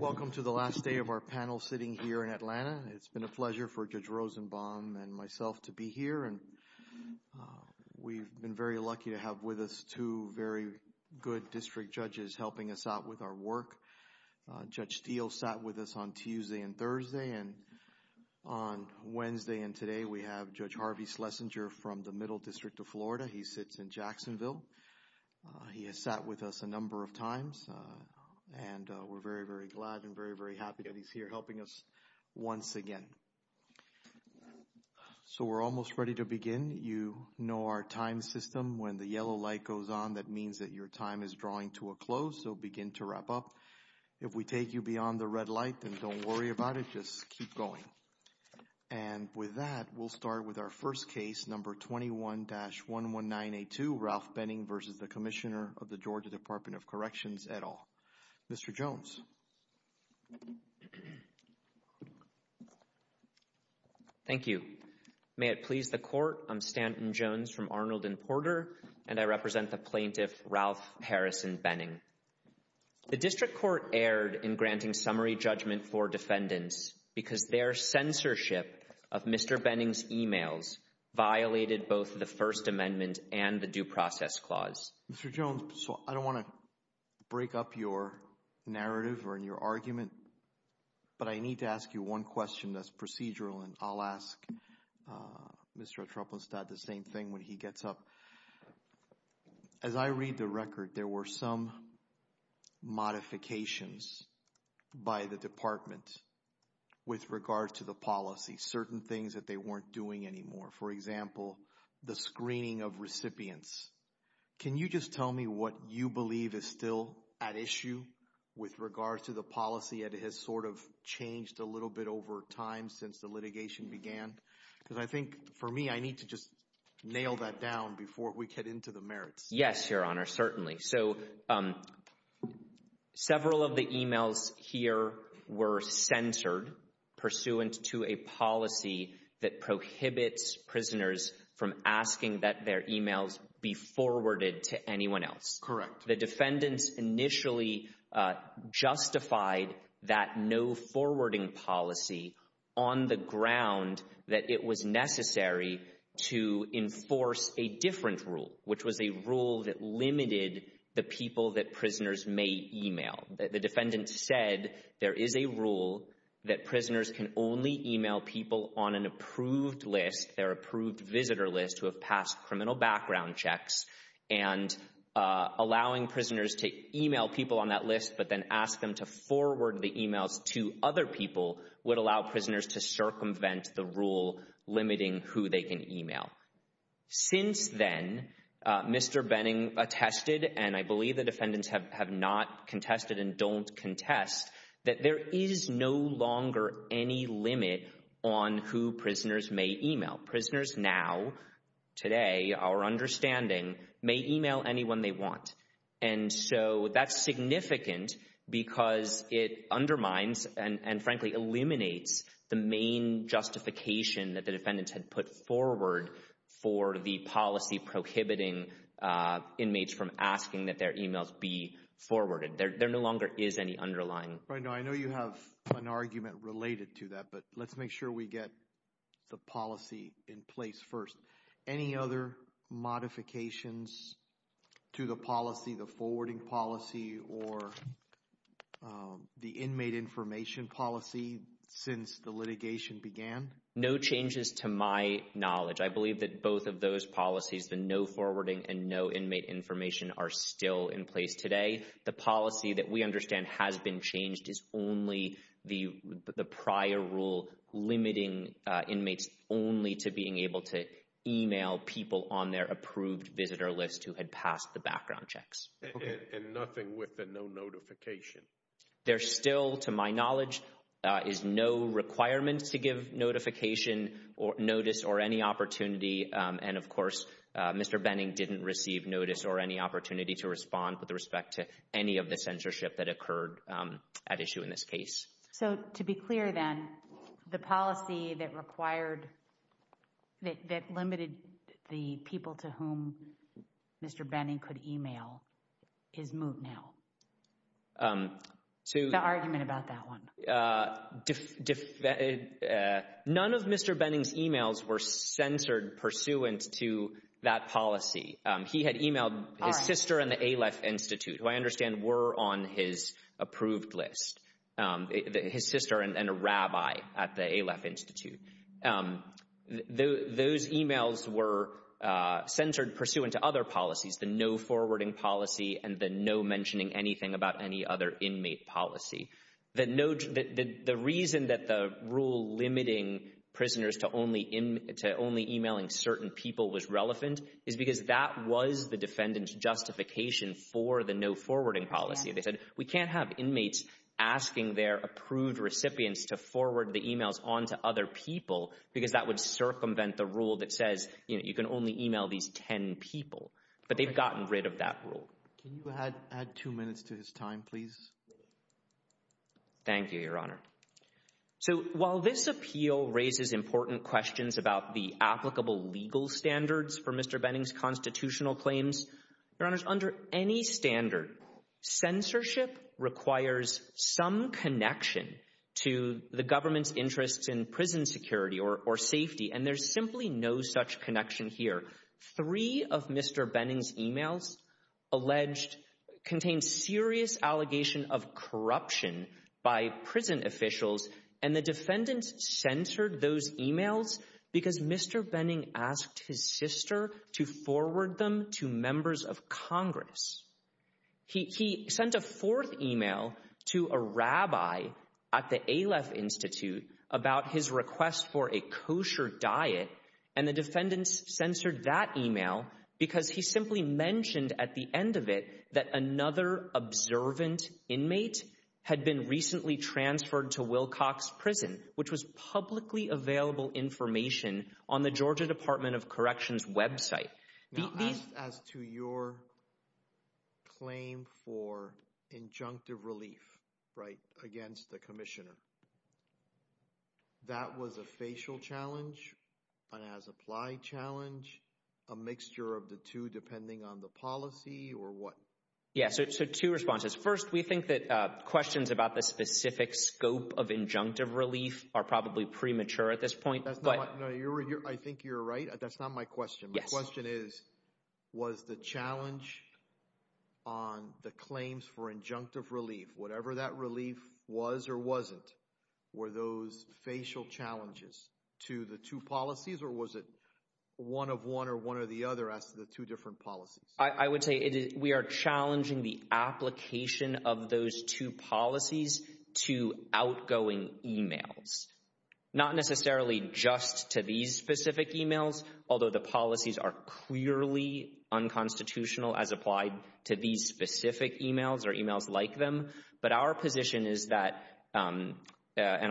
Welcome to the last day of our panel sitting here in Atlanta. It's been a pleasure for Judge Rosenbaum and myself to be here, and we've been very lucky to have with us two very good district judges helping us out with our work. Judge Steele sat with us on Tuesday and Thursday, and on Wednesday and today we have Judge Harvey Schlesinger from the Middle District of Florida. He sits in Jacksonville. He has sat with us a number of times, and we're very, very glad and very, very happy that he's here helping us once again. So we're almost ready to begin. You know our time system. When the yellow light goes on, that means that your time is drawing to a close, so begin to wrap up. If we take you beyond the red light, then don't worry about it. Just keep going. And with that, we'll start with our first case, number 21-11982, Ralph Benning v. Commissioner, Georgia Department of Corrections et al. Mr. Jones. Thank you. May it please the Court, I'm Stanton Jones from Arnold & Porter, and I represent the plaintiff, Ralph Harrison Benning. The District Court erred in granting summary judgment for defendants because their censorship of Mr. Benning's emails violated both the First Amendment and the Due Process Clause. Mr. Jones, I don't want to break up your narrative or your argument, but I need to ask you one question that's procedural and I'll ask Mr. O'Troupenstadt the same thing when he gets up. As I read the record, there were some modifications by the Department with regard to the policy, certain things that they weren't doing anymore. For example, the screening of recipients. Can you just tell me what you believe is still at issue with regards to the policy? It has sort of changed a little bit over time since the litigation began, because I think, for me, I need to just nail that down before we get into the merits. Yes, Your Honor, certainly. So, several of the emails here were censored pursuant to a policy that prohibits prisoners from asking that their emails be forwarded to anyone else. Correct. The defendants initially justified that no forwarding policy on the ground that it was necessary to enforce a different rule, which was a rule that limited the people that prisoners may email. The defendants said there is a rule that prisoners can only email people on an approved list, their approved visitor list who have passed criminal background checks, and allowing prisoners to email people on that list but then ask them to forward the emails to other people would allow prisoners to circumvent the rule limiting who they can email. Since then, Mr. Benning attested, and I believe the defendants have not contested and don't contest, that there is no longer any limit on who prisoners may email. Prisoners now, today, our understanding, may email anyone they want. And so, that's significant because it undermines and, frankly, eliminates the main justification that the defendants had put forward for the policy prohibiting inmates from asking that their emails be forwarded. There no longer is any underlying. I know you have an argument related to that, but let's make sure we get the policy in place first. Any other modifications to the policy, the forwarding policy, or the inmate information policy since the litigation began? No changes to my knowledge. I believe that both of those policies, the no forwarding and no inmate information, are still in place today. The policy that we understand has been changed is only the prior rule limiting inmates only to being able to email people on their approved visitor list who had passed the background checks. And nothing with the no notification? There still, to my knowledge, is no requirements to give notification or notice or any opportunity. And, of course, Mr. Benning didn't receive notice or any opportunity to respond with respect to any of the censorship that occurred at issue in this case. So, to be clear then, the policy that required, that limited the people to whom Mr. Benning could email is moot now? The argument about that one? None of Mr. Benning's emails were censored pursuant to that policy. He had emailed his sister and the Aleph Institute, who I understand were on his approved list, his sister and a rabbi at the Aleph Institute. Those emails were censored pursuant to other policies, the no forwarding policy and the no mentioning anything about any other inmate policy. The reason that the rule limiting prisoners to only emailing certain people was relevant is because that was the defendant's justification for the no forwarding policy. They said we can't have inmates asking their approved recipients to forward the emails on to other people because that would circumvent the rule that says you can only email these 10 people. But they've gotten rid of that rule. Can you add two minutes to his time, please? Thank you, Your Honor. So while this appeal raises important questions about the applicable legal standards for Mr. Benning's constitutional claims, Your Honor, under any standard, censorship requires some connection to the government's interests in prison security or safety, and there's simply no such connection here. Three of Mr. Benning's emails alleged contain serious allegation of corruption by prison officials, and the defendants censored those emails because Mr. Benning asked his sister to forward them to members of Congress. He sent a fourth email to a rabbi at the Aleph Institute about his request for a kosher diet, and the defendants censored that email because he simply mentioned at the end of it that another observant inmate had been recently transferred to Wilcox Prison, which was publicly available information on the Georgia Department of Corrections website. As to your claim for injunctive relief against the commissioner, that was a facial challenge, an as-applied challenge, a mixture of the two depending on the policy, or what? Yes, so two responses. First, we think that questions about the specific scope of injunctive relief are probably premature at this point. I think you're right. That's not my question. My question is, was the challenge on the claims for injunctive relief, whatever that relief was or wasn't, were those facial challenges to the two policies, or was it one of one or one of the other as to the two different policies? I would say we are challenging the application of those two policies to outgoing emails, not necessarily just to these specific emails, although the policies are clearly unconstitutional as applied to these specific emails or emails like them, but our position is that, and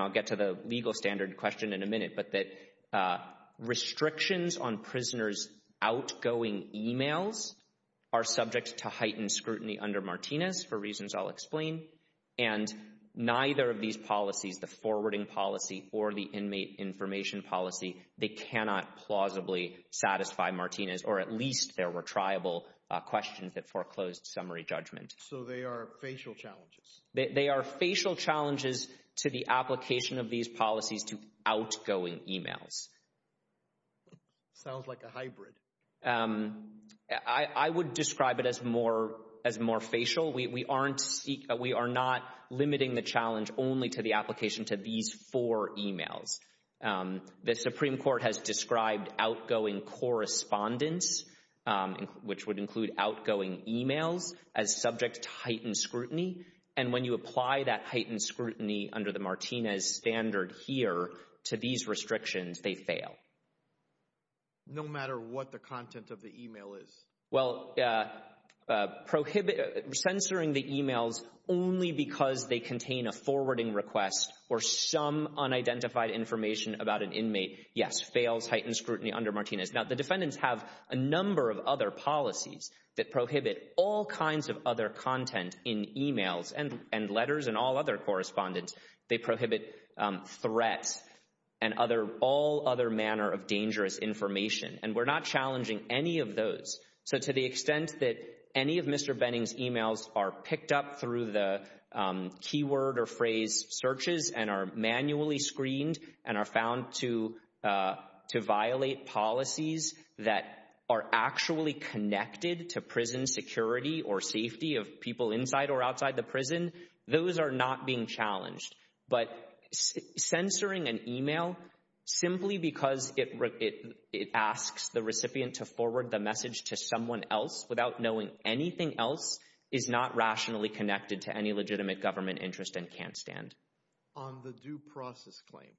I'll get to the legal standard question in a minute, but that restrictions on prisoners' outgoing emails are subject to heightened scrutiny under Martinez, for reasons I'll explain, and neither of these policies, the forwarding policy or the inmate information policy, they cannot plausibly satisfy Martinez, or at least there were triable questions that foreclosed summary judgment. So they are facial challenges? They are facial challenges to the application of these policies to outgoing emails. Sounds like a hybrid. I would describe it as more facial. We are not limiting the challenge only to the which would include outgoing emails as subject to heightened scrutiny, and when you apply that heightened scrutiny under the Martinez standard here to these restrictions, they fail. No matter what the content of the email is? Well, censoring the emails only because they contain a forwarding request or some unidentified information about an inmate, yes, fails heightened scrutiny under Martinez. Now, the defendants have a number of other policies that prohibit all kinds of other content in emails and letters and all other correspondence. They prohibit threats and all other manner of dangerous information, and we're not challenging any of those. So to the extent that any of Mr. Benning's emails are picked up through the keyword or phrase searches and are policies that are actually connected to prison security or safety of people inside or outside the prison, those are not being challenged. But censoring an email simply because it asks the recipient to forward the message to someone else without knowing anything else is not rationally connected to any legitimate government interest and can't stand. On the due process claim,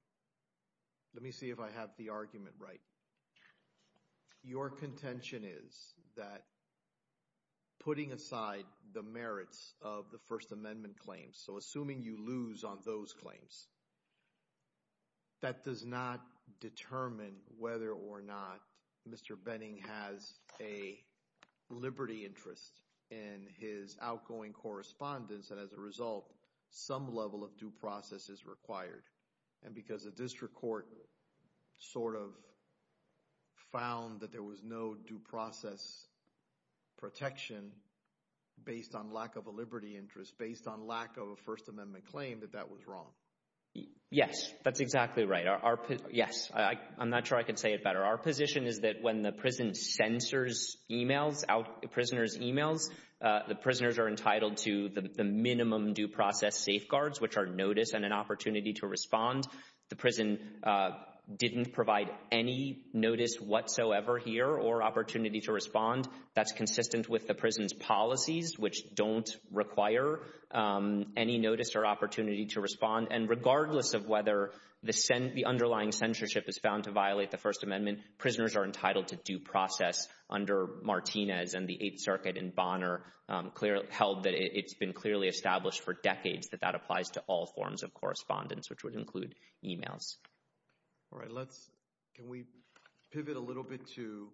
let me see if I have the argument right. Your contention is that putting aside the merits of the First Amendment claims, so assuming you lose on those claims, that does not determine whether or not Mr. Benning has a liberty interest in his due process is required. And because the district court sort of found that there was no due process protection based on lack of a liberty interest, based on lack of a First Amendment claim, that that was wrong. Yes, that's exactly right. Yes, I'm not sure I could say it better. Our position is that when the prison censors emails, prisoners emails, the prisoners are entitled to the minimum due process safeguards, which are notice and an opportunity to respond. The prison didn't provide any notice whatsoever here or opportunity to respond. That's consistent with the prison's policies, which don't require any notice or opportunity to respond. And regardless of whether the underlying censorship is found to violate the First Amendment, prisoners are entitled to due decades that that applies to all forms of correspondence, which would include emails. All right, let's, can we pivot a little bit to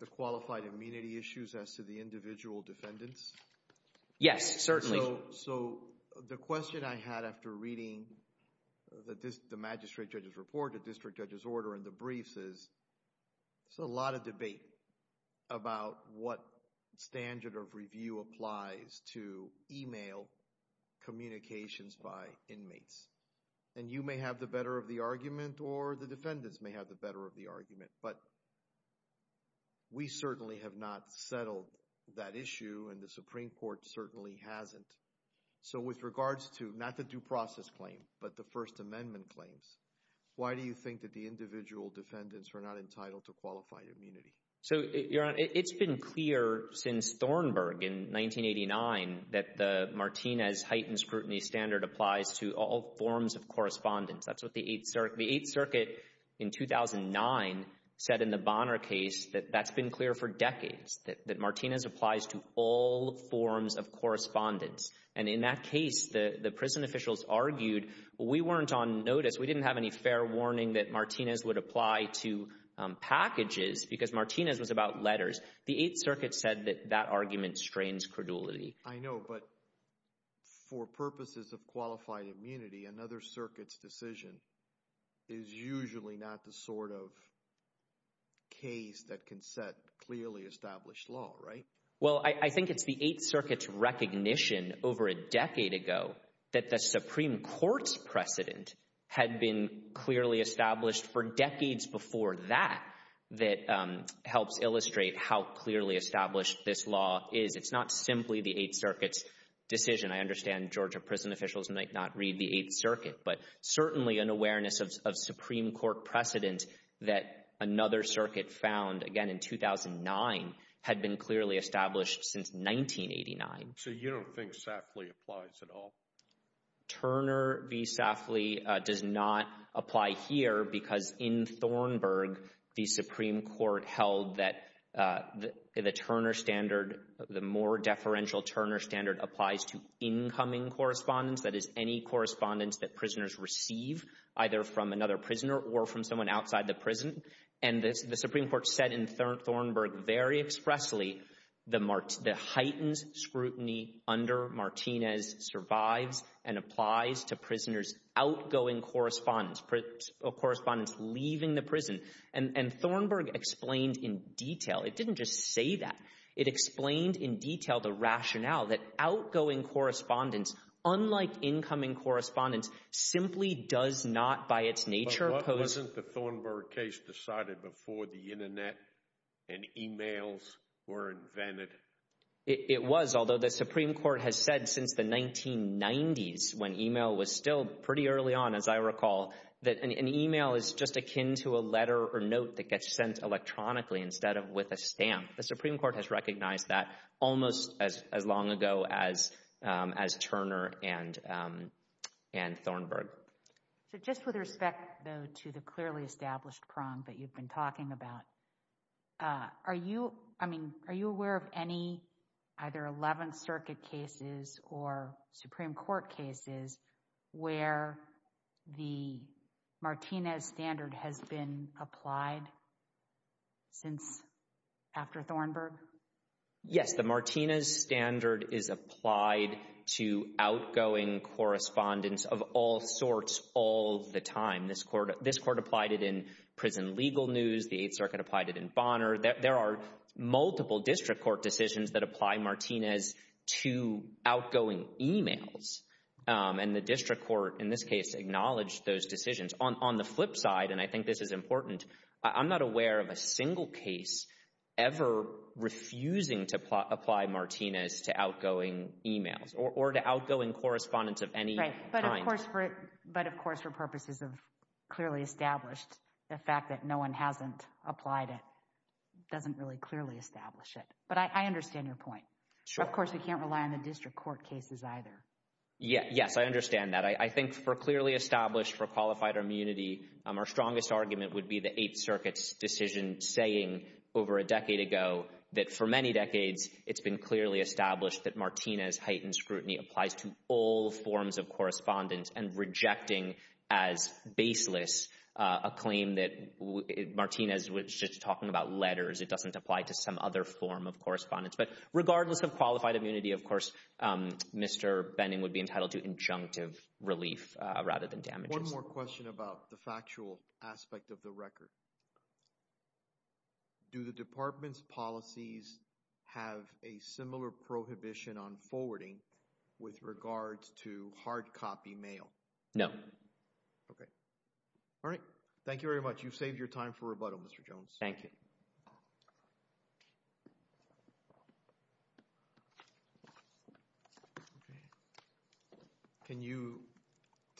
the qualified immunity issues as to the individual defendants? Yes, certainly. So the question I had after reading the magistrate judge's report, the district judge's order, and the briefs is, there's a lot of debate about what standard of communications by inmates. And you may have the better of the argument, or the defendants may have the better of the argument. But we certainly have not settled that issue, and the Supreme Court certainly hasn't. So with regards to not the due process claim, but the First Amendment claims, why do you think that the individual defendants are not entitled to qualified immunity? So, Your Honor, it's been clear since Thornburg in 1989 that the Martinez heightened scrutiny standard applies to all forms of correspondence. That's what the Eighth Circuit, the Eighth Circuit in 2009, said in the Bonner case that that's been clear for decades, that Martinez applies to all forms of correspondence. And in that case, the prison officials argued, we weren't on notice, we didn't have any fair warning that Martinez would apply to packages because Martinez was about letters. The Eighth Circuit said that that argument strains credulity. I know, but for purposes of qualified immunity, another circuit's decision is usually not the sort of case that can set clearly established law, right? Well, I think it's the Eighth Circuit's recognition over a decade ago that the Supreme Court's precedent had been clearly established for decades before that that helps illustrate how clearly established this law is. It's not simply the Eighth Circuit's decision. I understand Georgia prison officials might not read the Eighth Circuit, but certainly an awareness of Supreme Court precedent that another circuit found again in 2009 had been clearly established since 1989. So you don't think Safley applies at all? Turner v. Safley does not apply here because in Thornburgh, the Supreme Court held that the Turner standard, the more deferential Turner standard applies to incoming correspondence, that is any correspondence that prisoners receive, either from another prisoner or from someone outside the prison. And the Supreme Court said Thornburgh very expressly, the heightened scrutiny under Martinez survives and applies to prisoners' outgoing correspondence, correspondence leaving the prison. And Thornburgh explained in detail. It didn't just say that. It explained in detail the rationale that outgoing correspondence, unlike incoming correspondence, simply does not by its and emails were invented. It was, although the Supreme Court has said since the 1990s, when email was still pretty early on, as I recall, that an email is just akin to a letter or note that gets sent electronically instead of with a stamp. The Supreme Court has recognized that almost as long ago as Turner and Thornburgh. So just with respect, though, to the clearly are you I mean, are you aware of any either 11th Circuit cases or Supreme Court cases where the Martinez standard has been applied since after Thornburgh? Yes, the Martinez standard is applied to outgoing correspondence of all sorts all the time. This court applied it in prison legal news. The 8th Circuit applied it in Bonner. There are multiple district court decisions that apply Martinez to outgoing emails, and the district court in this case acknowledged those decisions. On the flip side, and I think this is important, I'm not aware of a single case ever refusing to apply Martinez to outgoing emails or to the fact that no one hasn't applied. It doesn't really clearly establish it, but I understand your point. Of course, we can't rely on the district court cases either. Yes, I understand that. I think for clearly established for qualified immunity, our strongest argument would be the 8th Circuit's decision saying over a decade ago that for many decades, it's been clearly established that Martinez heightened scrutiny applies to all a claim that Martinez was just talking about letters. It doesn't apply to some other form of correspondence, but regardless of qualified immunity, of course, Mr. Benning would be entitled to injunctive relief rather than damages. One more question about the factual aspect of the record. Do the department's policies have a similar prohibition on forwarding with regards to hard copy mail? No. Okay. All right. Thank you very much. You've saved your time for rebuttal, Mr. Jones. Thank you. Can you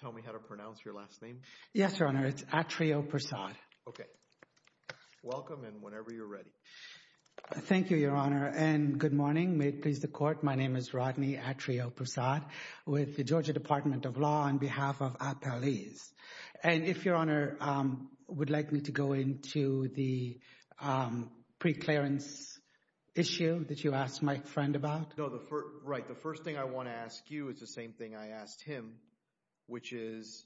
tell me how to pronounce your last name? Yes, Your Honor. It's Atrio Persaud. Okay. Welcome and whenever you're ready. Thank you, Your Honor, and good morning. May it please the court, my name is Rodney Atrio Persaud with the Georgia Department of Law on behalf of Appellees. And if Your Honor would like me to go into the preclearance issue that you asked my friend about? No, right. The first thing I want to ask you is the same thing I asked him, which is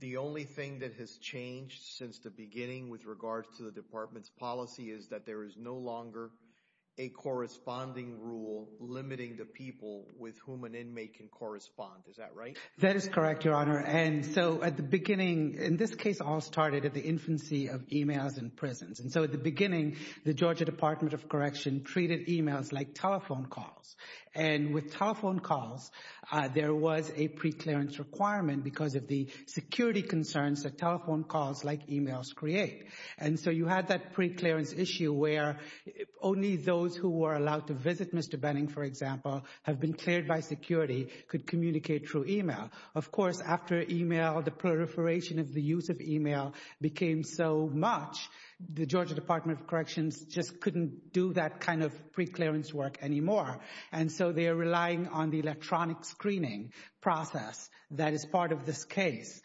the only thing that has changed since the beginning with regards to the department's policy is that there is no longer a corresponding rule limiting the people with whom an inmate can correspond. Is that right? That is correct, Your Honor. And so at the beginning, in this case, it all started at the infancy of emails in prisons. And so at the beginning, the Georgia Department of Correction treated emails like telephone calls. And with telephone calls, there was a preclearance requirement because of the security concerns that telephone calls like emails create. And so you had that preclearance issue where only those who were allowed to visit Mr. Benning, for example, have been cleared by security could communicate through email. Of course, after email, the proliferation of the use of email became so much, the Georgia Department of Corrections just couldn't do that kind of preclearance work anymore. And so they are relying on the electronic screening process that is part of this case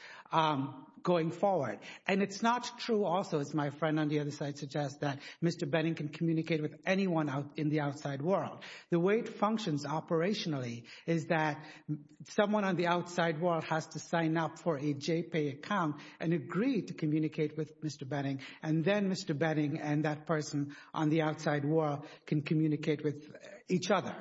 going forward. And it's not true also, as my friend on the other side suggests, that Mr. Benning can communicate with anyone out in the outside world. The way it functions operationally is that someone on the outside world has to sign up for a JPAY account and agree to communicate with Mr. Benning. And then Mr. Benning and that person on the outside world can communicate with each other.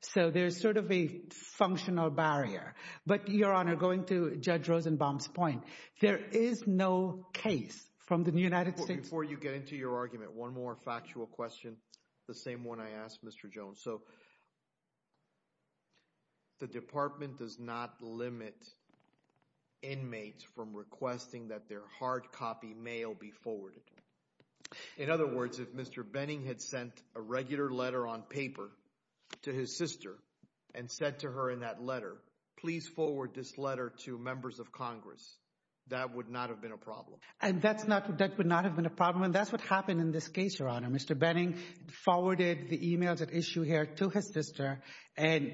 So there's sort of a functional barrier. But, Your Honor, going to Judge Rosenbaum's point, there is no case from the United States... Before you get into your argument, one more factual question, the same one I asked Mr. Jones. So the Department does not limit inmates from requesting that their hard copy mail be forwarded. In other words, if Mr. Benning had sent a regular letter on paper to his sister and said to her in that letter, please forward this letter to members of Congress, that would not have been a problem. And that's not... that would not have been a problem. And that's what happened in this case, Your Honor. Mr. Benning forwarded the emails at issue here to his sister. And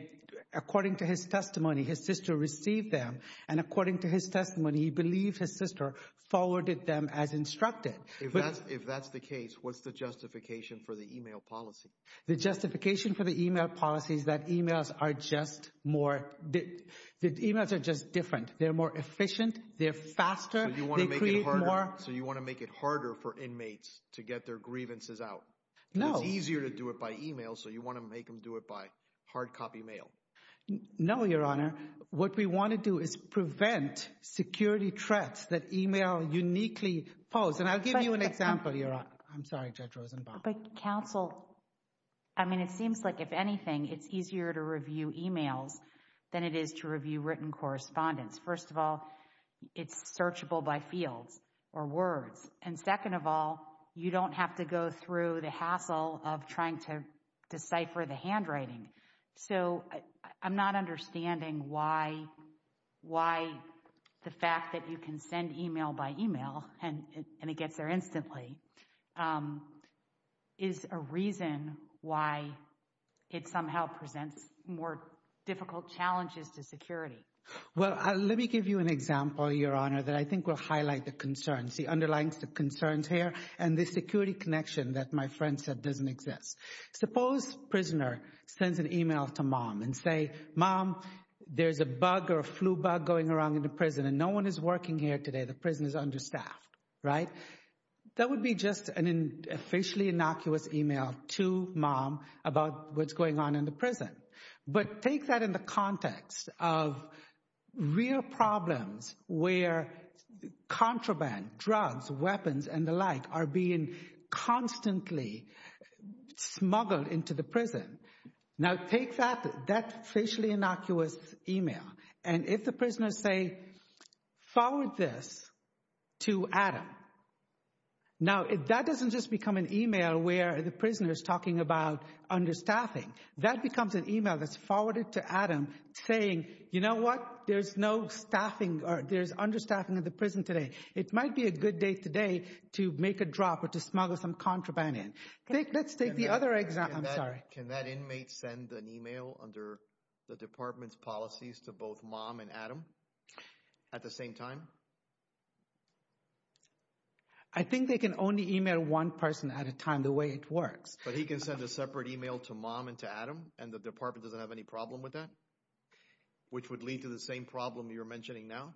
according to his testimony, his sister received them. And according to his testimony, he believed his sister forwarded them as instructed. If that's the case, what's the justification for the email policy? The justification for the email policy is that emails are just more... that emails are just different. They're more efficient. They're faster. They create more... So you want to make it harder for inmates to get their grievances out? No. It's easier to do it by email. So you want to make them do it by hard copy mail? No, Your Honor. What we want to do is prevent security threats that email uniquely pose. And I'll give you an example, Your Honor. I'm sorry, Judge Rosenbaum. But counsel, I mean, it seems like if anything, it's easier to review emails than it is to review written correspondence. First of all, it's searchable by fields or words. And second of all, you don't have to go through the hassle of trying to decipher the handwriting. So I'm not understanding why... and it gets there instantly... is a reason why it somehow presents more difficult challenges to security. Well, let me give you an example, Your Honor, that I think will highlight the concerns, the underlying concerns here, and the security connection that my friend said doesn't exist. Suppose prisoner sends an email to mom and say, Mom, there's a bug or a flu bug going around in the prison and no one is working here today. The prison is understaffed, right? That would be just an officially innocuous email to mom about what's going on in the prison. But take that in the context of real problems where contraband, drugs, weapons, and the like are being constantly smuggled into the prison. Now take that, that officially innocuous email, and if the prisoners say forward this to Adam, now that doesn't just become an email where the prisoner is talking about understaffing. That becomes an email that's forwarded to Adam saying, you know what, there's no staffing or there's understaffing in the prison today. It might be a good day today to make a drop or to smuggle some contraband in. Let's take the other example. I'm sorry. Can that inmate send an email under the department's policies to both mom and Adam at the same time? I think they can only email one person at a time the way it works. But he can send a separate email to mom and to Adam and the department doesn't have any problem with that? Which would lead to the same problem you're mentioning now?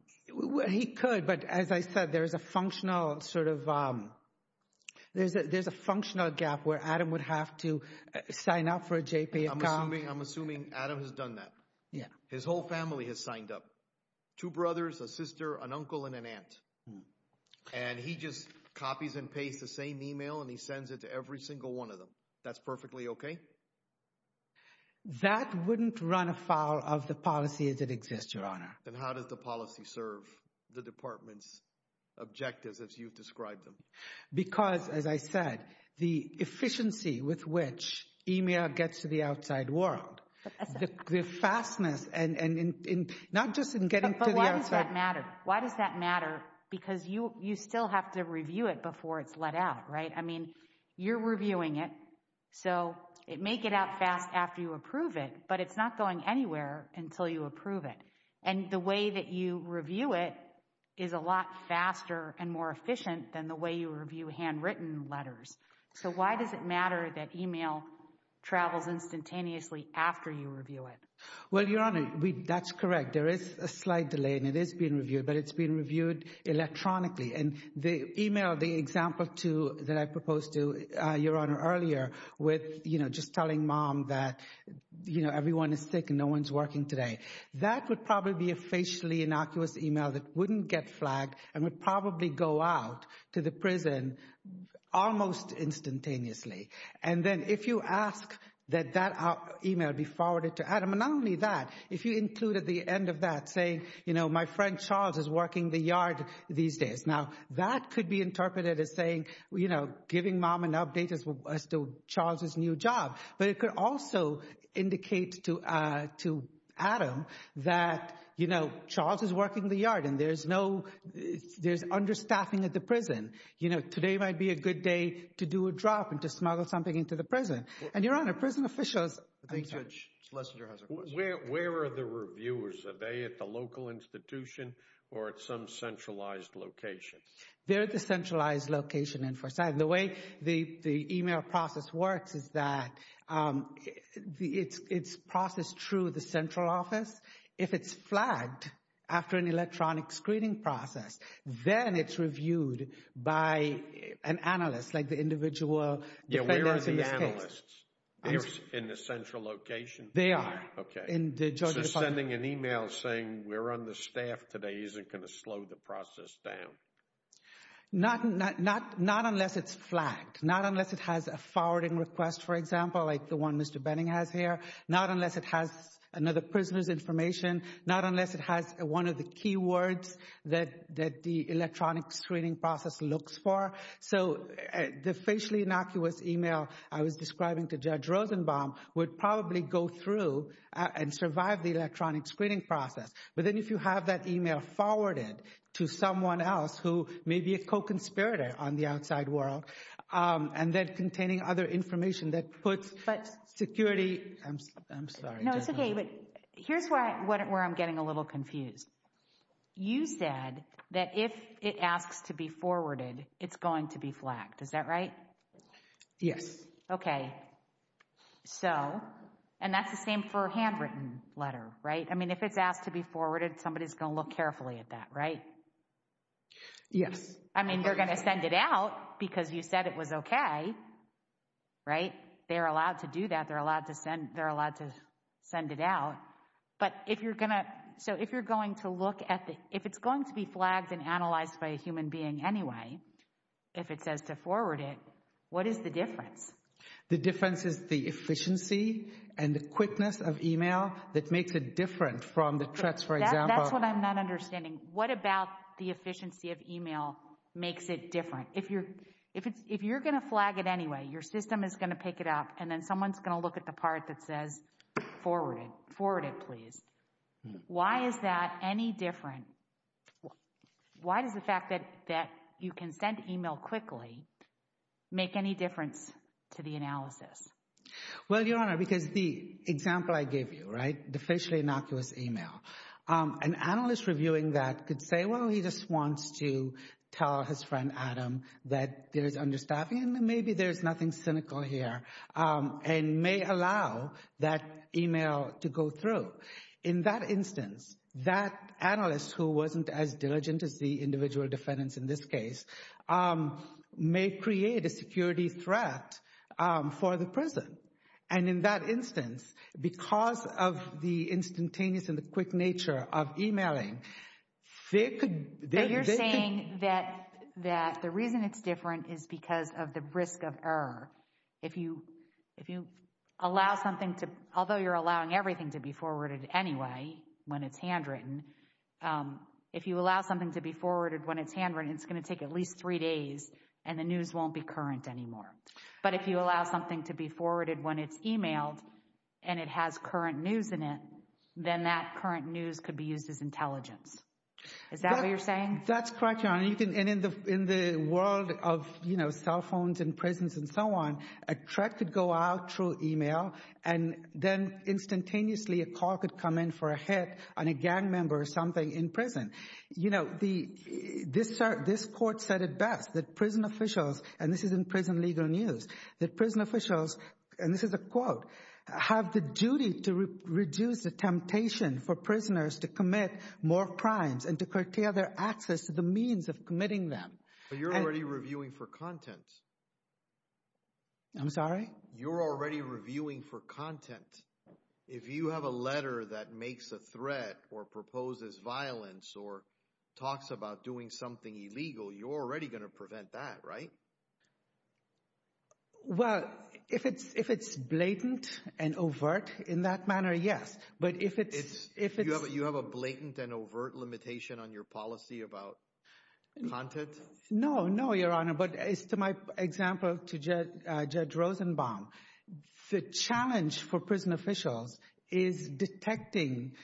He could, but as I said, there's a functional sort of there's a functional gap where Adam would have to sign up for a JP account. I'm assuming Adam has done that. Yeah. His whole family has signed up. Two brothers, a sister, an uncle, and an aunt. And he just copies and pastes the same email and he sends it to every single one of them. That's perfectly okay? That wouldn't run afoul of the policies that exist, Your Honor. Then how does the policy serve the department's objectives as you've described them? Because, as I said, the efficiency with which email gets to the outside world, the fastness and not just in getting to the outside. But why does that matter? Why does that matter? Because you still have to review it before it's let out, right? I mean, you're reviewing it, so it may get out fast after you approve it, but it's not going anywhere until you approve it. And the way that you review it is a lot faster and more efficient than the way you review handwritten letters. So why does it matter that email travels instantaneously after you review it? Well, Your Honor, that's correct. There is a slight delay and it is being reviewed, but it's being reviewed electronically. And the example that I proposed to Your Honor earlier with, you know, just telling mom that, you know, everyone is sick and no one's working today, that would probably be a facially innocuous email that wouldn't get flagged and would probably go out to the prison almost instantaneously. And then if you ask that that email be forwarded to Adam, and not only that, if you included the end of that saying, you know, my friend Charles is working the yard these days. Now that could be interpreted as saying, you know, giving mom an update as to Charles's new job. But it could also indicate to Adam that, you know, Charles is working the yard and there's no, there's understaffing at the prison. You know, today might be a good day to do a drop and to smuggle something into the prison. And Your Honor, prison officials... I think Judge Schlesinger has a question. Where are the reviewers? Are they at the local institution or at some centralized location? They're at the centralized location in Forsyth. The way the email process works is that it's processed through the central office. If it's flagged after an electronic screening process, then it's reviewed by an analyst, like the individual... Yeah, where are the analysts? In the central location? They are. Okay. So sending an email saying we're understaffed today isn't going to slow the process down. Not unless it's flagged. Not unless it has a forwarding request, for example, like the one Mr. Benning has here. Not unless it has another prisoner's information. Not unless it has one of the key words that the electronic screening process looks for. So the facially innocuous email I was describing to Judge Rosenbaum would probably go through and survive the electronic screening process. But then if you have that email forwarded to someone else who may be a co-conspirator on the outside world, and then containing other information that puts security... I'm sorry. No, it's okay. But here's where I'm getting a little confused. You said that if it asks to be forwarded, it's going to be flagged. Is that right? Yes. Okay. So, and that's the same for a handwritten letter, right? I mean, if it's asked to be forwarded, somebody's going to look carefully at that, right? Yes. I mean, they're going to send it out because you said it was okay, right? They're allowed to do that. They're allowed to send it out. But if you're going to, so if you're going to look at the, if it's going to be flagged and analyzed by a human being anyway, if it says to forward it, what is the difference? The difference is the efficiency and the quickness of email that makes it different from the threats, for example. That's what I'm not understanding. What about the efficiency of email makes it different? If you're, if you're going to flag it anyway, your system is going to pick it up and then someone's going to look at the part that says forward it. Forward it, please. Why is that any different? Why does the fact that you can send email quickly make any difference to the analysis? Well, Your Honor, because the example I gave you, the facially innocuous email, an analyst reviewing that could say, well, he just wants to tell his friend Adam that there's understaffing and maybe there's nothing cynical here and may allow that email to go through. In that instance, that analyst who wasn't as diligent as the individual defendants in this case may create a security threat for the prison. And in that instance, because of the instantaneous and the quick nature of emailing, they could. You're saying that, that the reason it's different is because of the risk of error. If you, if you allow something to, although you're allowing everything to be forwarded anyway, when it's handwritten, if you allow something to be forwarded when it's handwritten, it's going to take at least three days and the news won't be current anymore. But if you allow something to be forwarded when it's emailed and it has current news in it, then that current news could be used as intelligence. Is that what you're saying? That's correct, Your Honor. And you can, and in the, in the world of, you know, cell phones and prisons and so on, a threat could go out through email and then instantaneously a call could come in for a hit on a gang member or something in prison. You know, the, this court said it best, that prison officials, and this is in prison legal news, that prison officials, and this is a quote, have the duty to reduce the temptation for prisoners to commit more crimes and to curtail their access to the means of committing them. But you're already reviewing for content. I'm sorry? You're already reviewing for content. If you have a letter that makes a threat or a threat, you can't prevent that, right? Well, if it's, if it's blatant and overt in that manner, yes. But if it's, if it's... You have a blatant and overt limitation on your policy about content? No, no, Your Honor. But as to my example to Judge Rosenbaum, the challenge for prison officials is detecting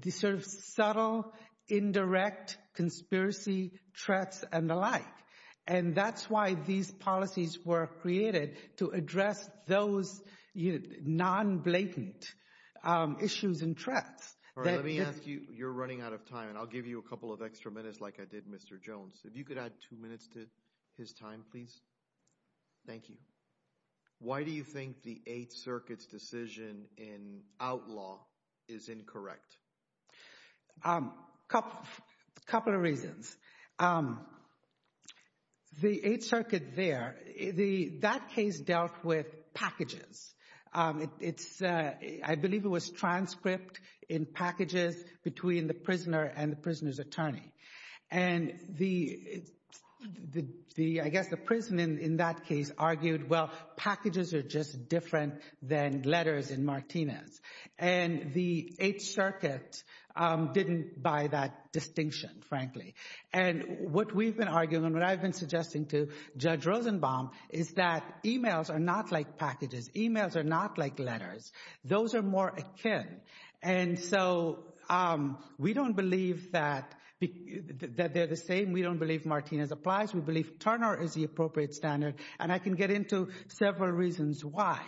the sort of subtle, indirect conspiracy threats and the like. And that's why these policies were created, to address those non-blatant issues and threats. All right, let me ask you, you're running out of time, and I'll give you a couple of extra minutes like I did Mr. Jones. If you could add two minutes to his time, please. Thank you. Why do you think the Eighth Circuit's decision in outlaw is incorrect? A couple of reasons. The Eighth Circuit there, that case dealt with packages. It's, I believe it was transcript in packages between the prisoner and the prisoner's attorney. And the, I guess the prison in that case argued, well packages are just different than letters in Martinez. And the Eighth Circuit didn't buy that distinction, frankly. And what we've been arguing, and what I've been suggesting to Judge Rosenbaum, is that emails are not like packages. Emails are not like letters. Those are more akin. And so we don't believe that, that they're the same. We don't believe Martinez applies. We believe several reasons why.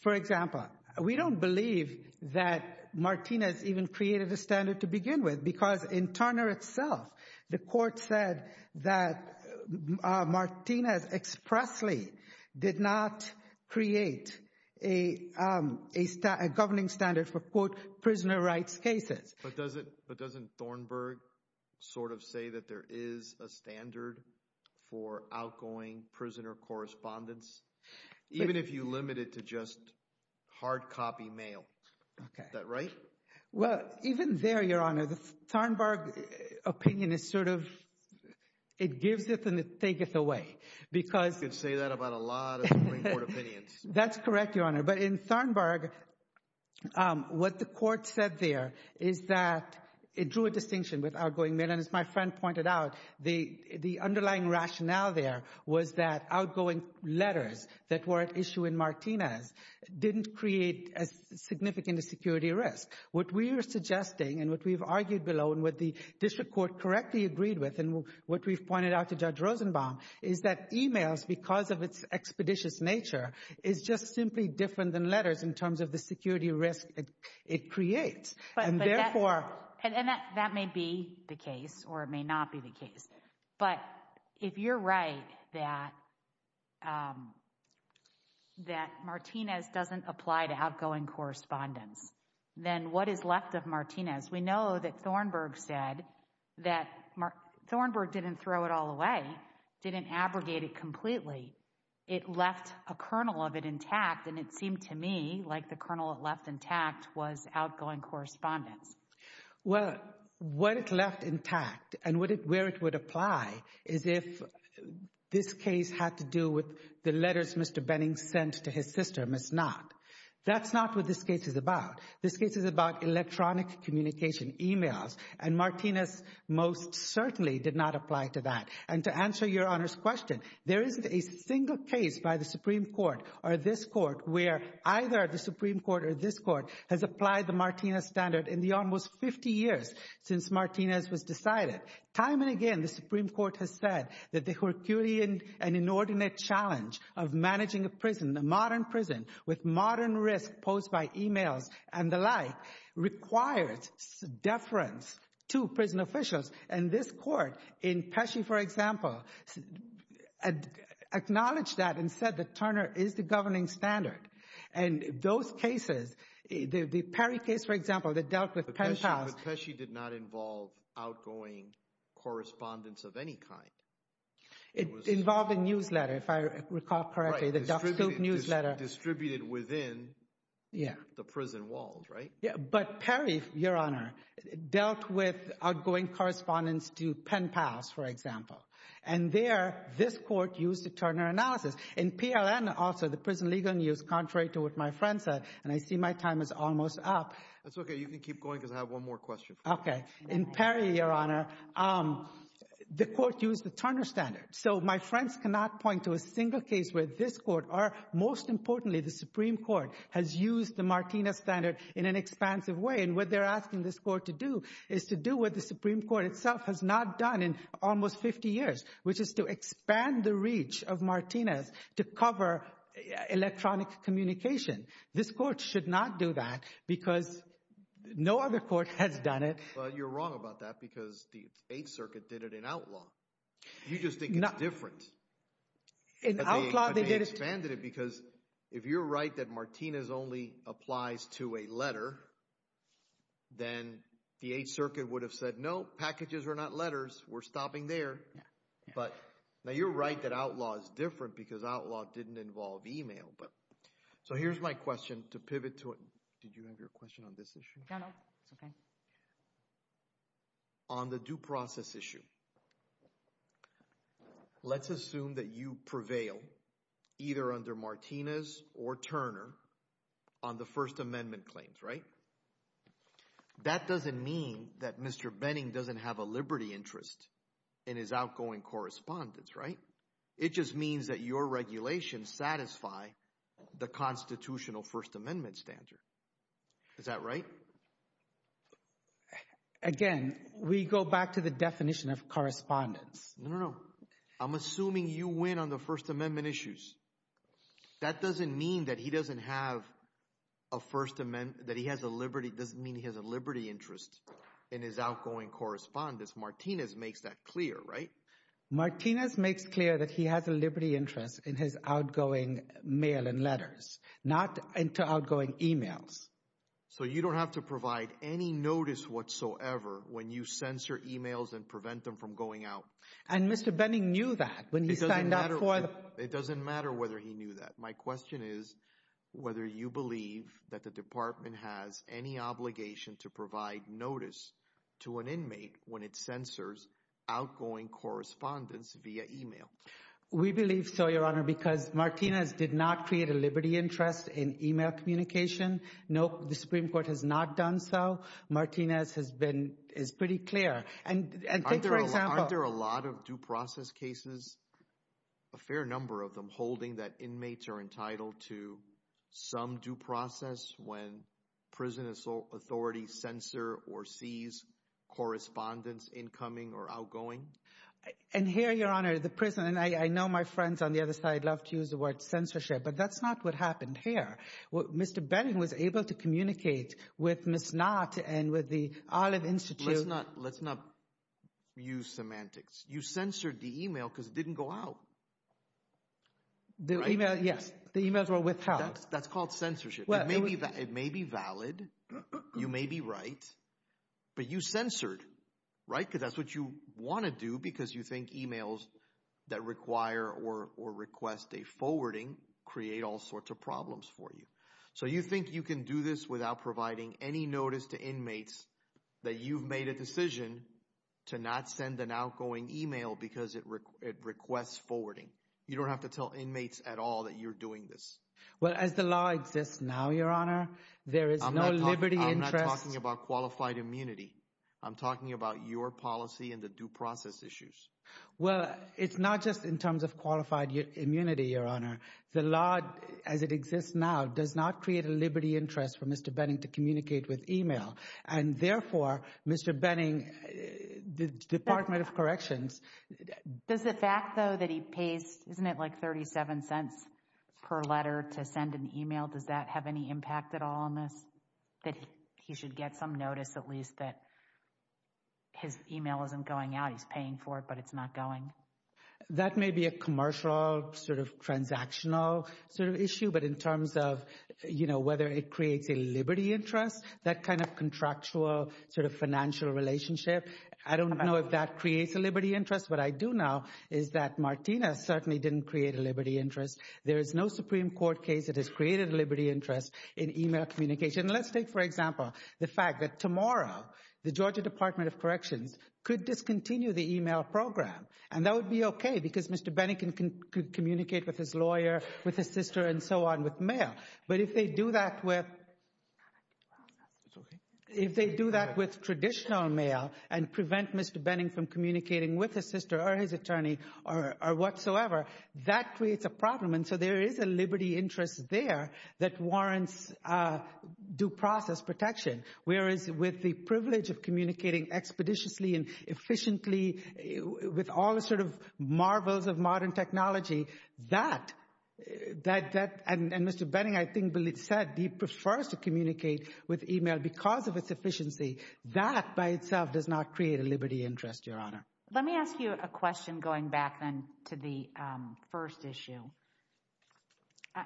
For example, we don't believe that Martinez even created a standard to begin with because in Turner itself, the court said that Martinez expressly did not create a governing standard for, quote, prisoner rights cases. But doesn't Thornburg sort of say that there is a Even if you limit it to just hard copy mail. Okay. Is that right? Well, even there, Your Honor, the Thornburg opinion is sort of, it gives it and it taketh away. Because You could say that about a lot of Supreme Court opinions. That's correct, Your Honor. But in Thornburg, what the court said there is that it drew a distinction with outgoing mail. And as my rationale there was that outgoing letters that were at issue in Martinez didn't create as significant a security risk. What we are suggesting, and what we've argued below, and what the district court correctly agreed with, and what we've pointed out to Judge Rosenbaum, is that emails, because of its expeditious nature, is just simply different than letters in terms of the security risk it creates. And therefore, And that may be the case, or it may not be the case. But if you're right that that Martinez doesn't apply to outgoing correspondence, then what is left of Martinez? We know that Thornburg said that Thornburg didn't throw it all away, didn't abrogate it completely. It left a kernel of it intact. And it seemed to me like the kernel it left intact was outgoing correspondence. Well, what it left intact, and where it would apply, is if this case had to do with the letters Mr. Benning sent to his sister, Ms. Knott. That's not what this case is about. This case is about electronic communication emails. And Martinez most certainly did not apply to that. And to answer Your Honor's question, there isn't a single case by the Supreme Court, or this Court, where either the Supreme Court or this Court has applied the Martinez standard in the almost 50 years since Martinez was decided. Time and again, the Supreme Court has said that the Herculean and inordinate challenge of managing a prison, a modern prison, with modern risk posed by emails and the like, requires deference to acknowledge that and said that Turner is the governing standard. And those cases, the Perry case, for example, that dealt with pen pals. But Pesci did not involve outgoing correspondence of any kind. It involved a newsletter, if I recall correctly, the Duck Soup newsletter. Distributed within the prison walls, right? Yeah, but Perry, Your Honor, dealt with outgoing correspondence to pen pals, for example. And there, this Court used a Turner analysis. In PLN also, the prison legal news, contrary to what my friend said, and I see my time is almost up. That's okay. You can keep going because I have one more question. Okay. In Perry, Your Honor, the Court used the Turner standard. So my friends cannot point to a single case where this Court, or most importantly, the Supreme Court, has used the Martinez standard in an expansive way. And what they're asking this Court to do is to do what the Supreme Court itself has not done in almost 50 years, which is to expand the reach of Martinez to cover electronic communication. This Court should not do that because no other court has done it. But you're wrong about that because the Eighth Circuit did it in outlaw. You just think it's different. In outlaw, they did it. But they expanded it because if you're right that Martinez only applies to a letter, then the Eighth Circuit would have said, no, packages are not letters. We're stopping there. But now you're right that outlaw is different because outlaw didn't involve email. So here's my question to pivot to it. Did you have your question on this issue? No, no. It's okay. On the due process issue, let's assume that you prevail either under Martinez or Turner on the First Amendment claims, right? That doesn't mean that Mr. Benning doesn't have a liberty interest in his outgoing correspondence, right? It just means that your regulations satisfy the Constitutional First Amendment standard. Is that right? Again, we go back to the definition of correspondence. No, no, no. I'm assuming you win on the First Amendment issues. That doesn't mean that he doesn't have a First Amendment, that he has a liberty, doesn't mean he has a liberty interest in his outgoing correspondence. Martinez makes that clear, right? Martinez makes clear that he has a liberty interest in his outgoing emails. So you don't have to provide any notice whatsoever when you censor emails and prevent them from going out. And Mr. Benning knew that. It doesn't matter whether he knew that. My question is whether you believe that the department has any obligation to provide notice to an inmate when it censors outgoing correspondence via email. We believe so, Your Honor, because Martinez did not create a liberty interest in email communication. No, the Supreme Court has not done so. Martinez has been, is pretty clear. Aren't there a lot of due process cases, a fair number of them, holding that inmates are entitled to some due process when prison authorities censor or seize correspondence, incoming or outgoing? And here, Your Honor, the prison, and I know my friends on the other side love to use the word censorship, but that's not what happened here. Mr. Benning was able to communicate with Ms. Knott and with the Olive Institute. Let's not, let's not use semantics. You censored the email because it didn't go out. The email, yes, the emails were withheld. That's called censorship. It may be valid, you may be right, but you censored, right? Because that's what you think emails that require or request a forwarding create all sorts of problems for you. So you think you can do this without providing any notice to inmates that you've made a decision to not send an outgoing email because it requests forwarding. You don't have to tell inmates at all that you're doing this. Well, as the law exists now, Your Honor, there is no liberty interest. I'm not Well, it's not just in terms of qualified immunity, Your Honor. The law as it exists now does not create a liberty interest for Mr. Benning to communicate with email. And therefore, Mr. Benning, the Department of Corrections. Does the fact though that he pays, isn't it like 37 cents per letter to send an email, does that have any impact at all on this? That he should get some notice at least that his email isn't going out. He's paying for it, but it's not going. That may be a commercial sort of transactional sort of issue. But in terms of, you know, whether it creates a liberty interest, that kind of contractual sort of financial relationship, I don't know if that creates a liberty interest. What I do know is that Martina certainly didn't create a liberty interest. There is no Supreme Court case that has created a liberty interest in email communication. Let's take, for example, the fact that tomorrow, the Georgia Department of Corrections could discontinue the email program. And that would be okay because Mr. Benning can communicate with his lawyer, with his sister and so on with mail. But if they do that with traditional mail and prevent Mr. Benning from communicating with his sister or his attorney or whatsoever, that creates a problem. And so there is a liberty interest there that warrants due process protection. Whereas with the privilege of communicating expeditiously and efficiently with all the sort of marvels of modern technology, that, and Mr. Benning I think said he prefers to communicate with email because of its efficiency. That by itself does not create a liberty interest, Your Honor. Let me ask you a question going back then to the first issue.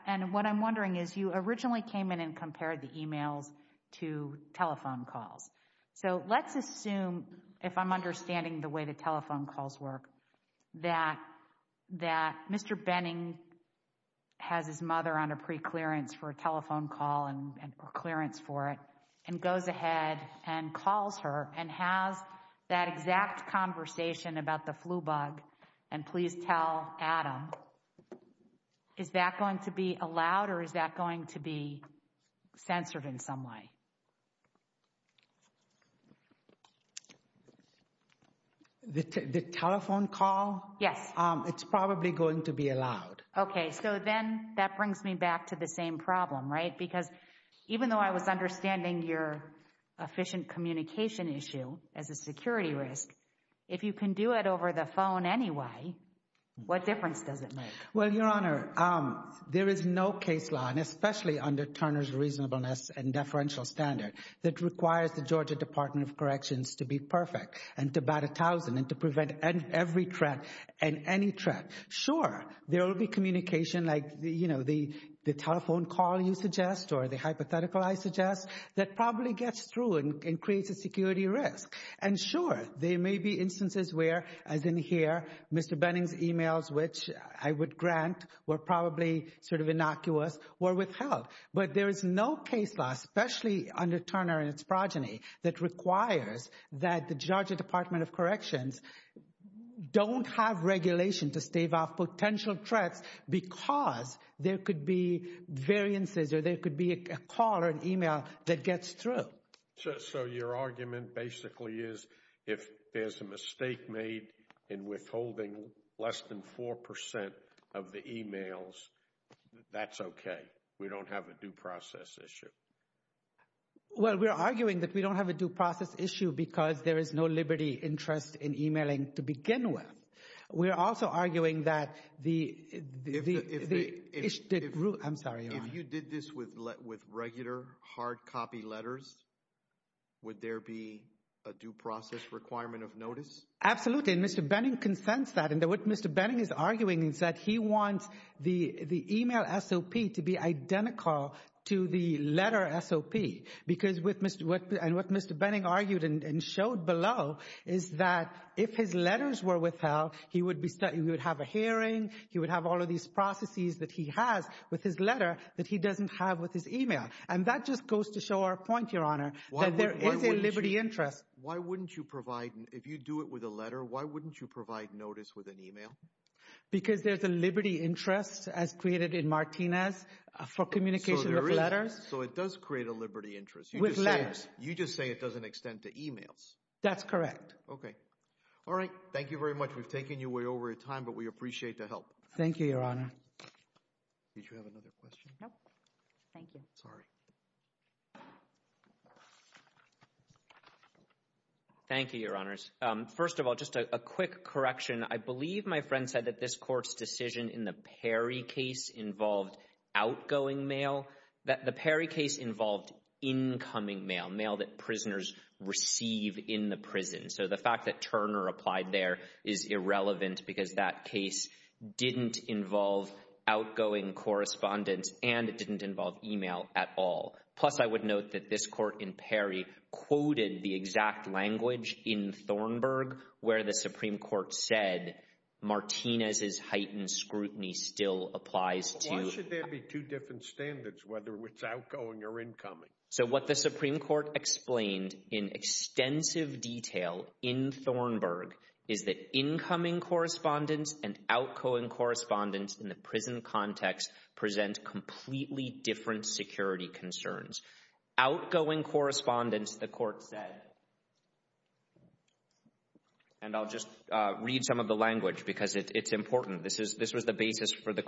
And what I'm wondering is you originally came in and compared the emails to telephone calls. So let's assume, if I'm understanding the way the telephone calls work, that Mr. Benning has his mother on a preclearance for a telephone call or clearance for it and goes ahead and calls her and has that exact conversation about the flu bug and please tell Adam. Is that going to be allowed or is that going to be censored in some way? The telephone call? Yes. It's probably going to be allowed. Okay. So then that brings me back to the same problem, right? Because even though I was understanding your efficient communication issue as a security risk, if you can do it over the phone anyway, what difference does it make? Well, Your Honor, there is no case law, and especially under Turner's reasonableness and deferential standard, that requires the Georgia Department of Corrections to be perfect and to bat a thousand and to prevent every threat and any threat. Sure, there will be communication like, you know, the telephone call you suggest or the hypothetical I suggest that probably gets through and creates a security risk. And sure, there may be instances where, as in here, Mr. Benning's emails, which I would grant were probably sort of innocuous, were withheld. But there is no case law, especially under Turner and its progeny, that requires that the Georgia Department of Corrections don't have regulation to stave off potential threats because there could be variances or there could be a call or an email that gets through. So your argument basically is if there's a mistake made in withholding less than 4% of the emails, that's okay. We don't have a due process issue. Well, we're arguing that we don't have a due process issue because there is no liberty interest in emailing to begin with. We're also arguing that the... I'm sorry, Your Honor. You did this with regular hard copy letters. Would there be a due process requirement of notice? Absolutely. And Mr. Benning consents that. And what Mr. Benning is arguing is that he wants the email SOP to be identical to the letter SOP. Because what Mr. Benning argued and showed below is that if his letters were withheld, he would have a hearing, he would have all of these processes that he has with his letter that he doesn't have with his email. And that just goes to show our point, Your Honor, that there is a liberty interest. Why wouldn't you provide, if you do it with a letter, why wouldn't you provide notice with an email? Because there's a liberty interest, as created in Martinez, for communication of letters. So it does create a liberty interest. With letters. You just say it doesn't extend to emails. That's correct. Okay. All right. Thank you very much. We've taken you way over your time, but we appreciate the help. Thank you, Your Honor. Did you have another question? No. Thank you. Sorry. Thank you, Your Honors. First of all, just a quick correction. I believe my friend said that this court's decision in the Perry case involved outgoing mail. The Perry case involved incoming mail, mail that prisoners receive in the prison. So the fact that Turner applied there is irrelevant because that case didn't involve outgoing correspondence and it didn't involve email at all. Plus, I would note that this court in Perry quoted the exact language in Thornburgh where the Supreme Court said Martinez's heightened scrutiny still applies to— Why should there be two different standards, whether it's outgoing or incoming? So what the Supreme Court explained in extensive detail in Thornburgh is that incoming correspondence and outgoing correspondence in the prison context present completely different security concerns. Outgoing correspondence, the court said, and I'll just read some of the language because it's important. This was the basis for the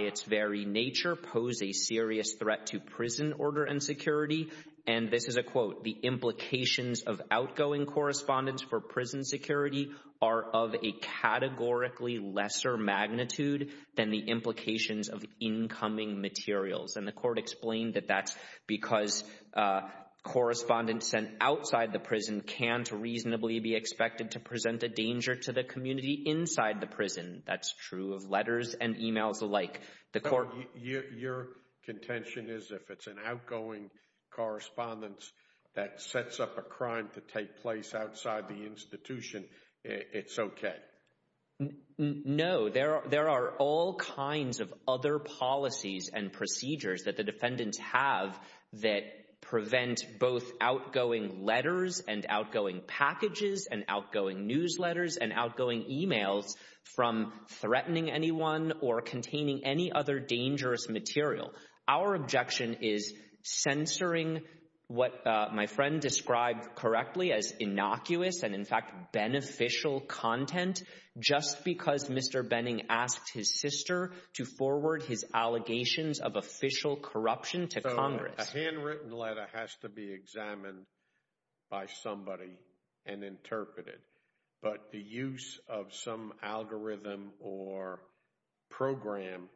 its very nature pose a serious threat to prison order and security. And this is a quote, The court explained that that's because correspondence sent outside the prison can't reasonably be expected to present a danger to the community inside the prison. That's true of letters and emails alike. Your contention is if it's an outgoing correspondence that sets up a crime to take place outside the institution, it's okay? No, there are all kinds of other policies and procedures that the defendants have that prevent both outgoing letters and outgoing packages and outgoing newsletters and outgoing emails from threatening anyone or containing any other dangerous material. Our objection is censoring what my friend described correctly as innocuous and in fact beneficial content just because Mr. Benning asked his sister to forward his allegations of official corruption to Congress. So a handwritten letter has to be examined by somebody and interpreted, but the use of some algorithm or program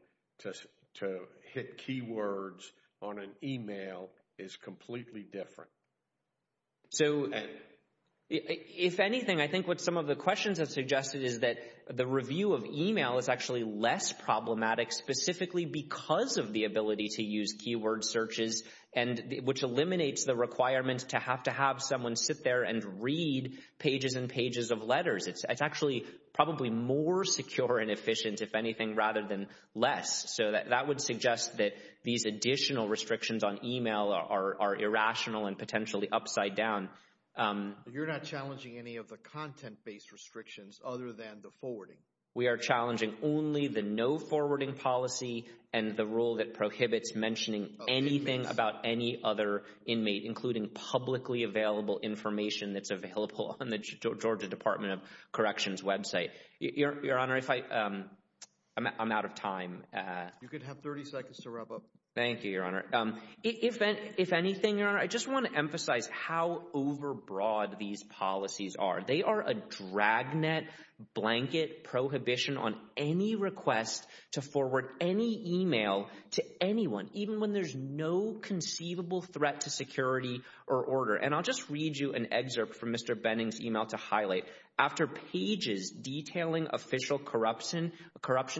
to hit keywords on an email is completely different. So if anything, I think what some of the questions have suggested is that the review of email is actually less problematic specifically because of the ability to use keyword searches and which letters. It's actually probably more secure and efficient, if anything, rather than less. So that would suggest that these additional restrictions on email are irrational and potentially upside down. You're not challenging any of the content-based restrictions other than the forwarding. We are challenging only the no forwarding policy and the rule that prohibits mentioning anything about any other inmate, including publicly available information that's on the Department of Corrections website. Your Honor, I'm out of time. You could have 30 seconds to wrap up. Thank you, Your Honor. If anything, I just want to emphasize how overbroad these policies are. They are a dragnet blanket prohibition on any request to forward any email to anyone, even when there's no conceivable threat to security or order. And I'll just read you an after pages detailing official corruption.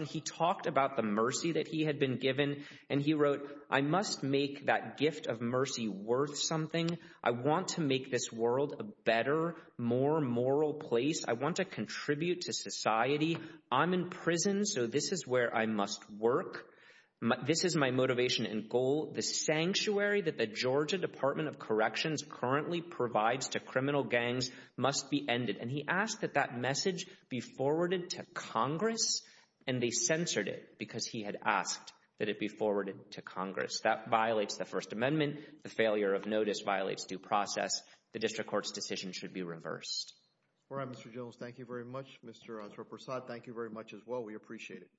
He talked about the mercy that he had been given, and he wrote, I must make that gift of mercy worth something. I want to make this world a better, more moral place. I want to contribute to society. I'm in prison, so this is where I must work. This is my motivation and goal. The sanctuary that the Georgia Department of Corrections has given me is a sanctuary. And he asked that that message be forwarded to Congress, and they censored it because he had asked that it be forwarded to Congress. That violates the First Amendment. The failure of notice violates due process. The district court's decision should be reversed. All right, Mr. Jones, thank you very much. Mr. Azra Prasad, thank you very much as well. We appreciate it.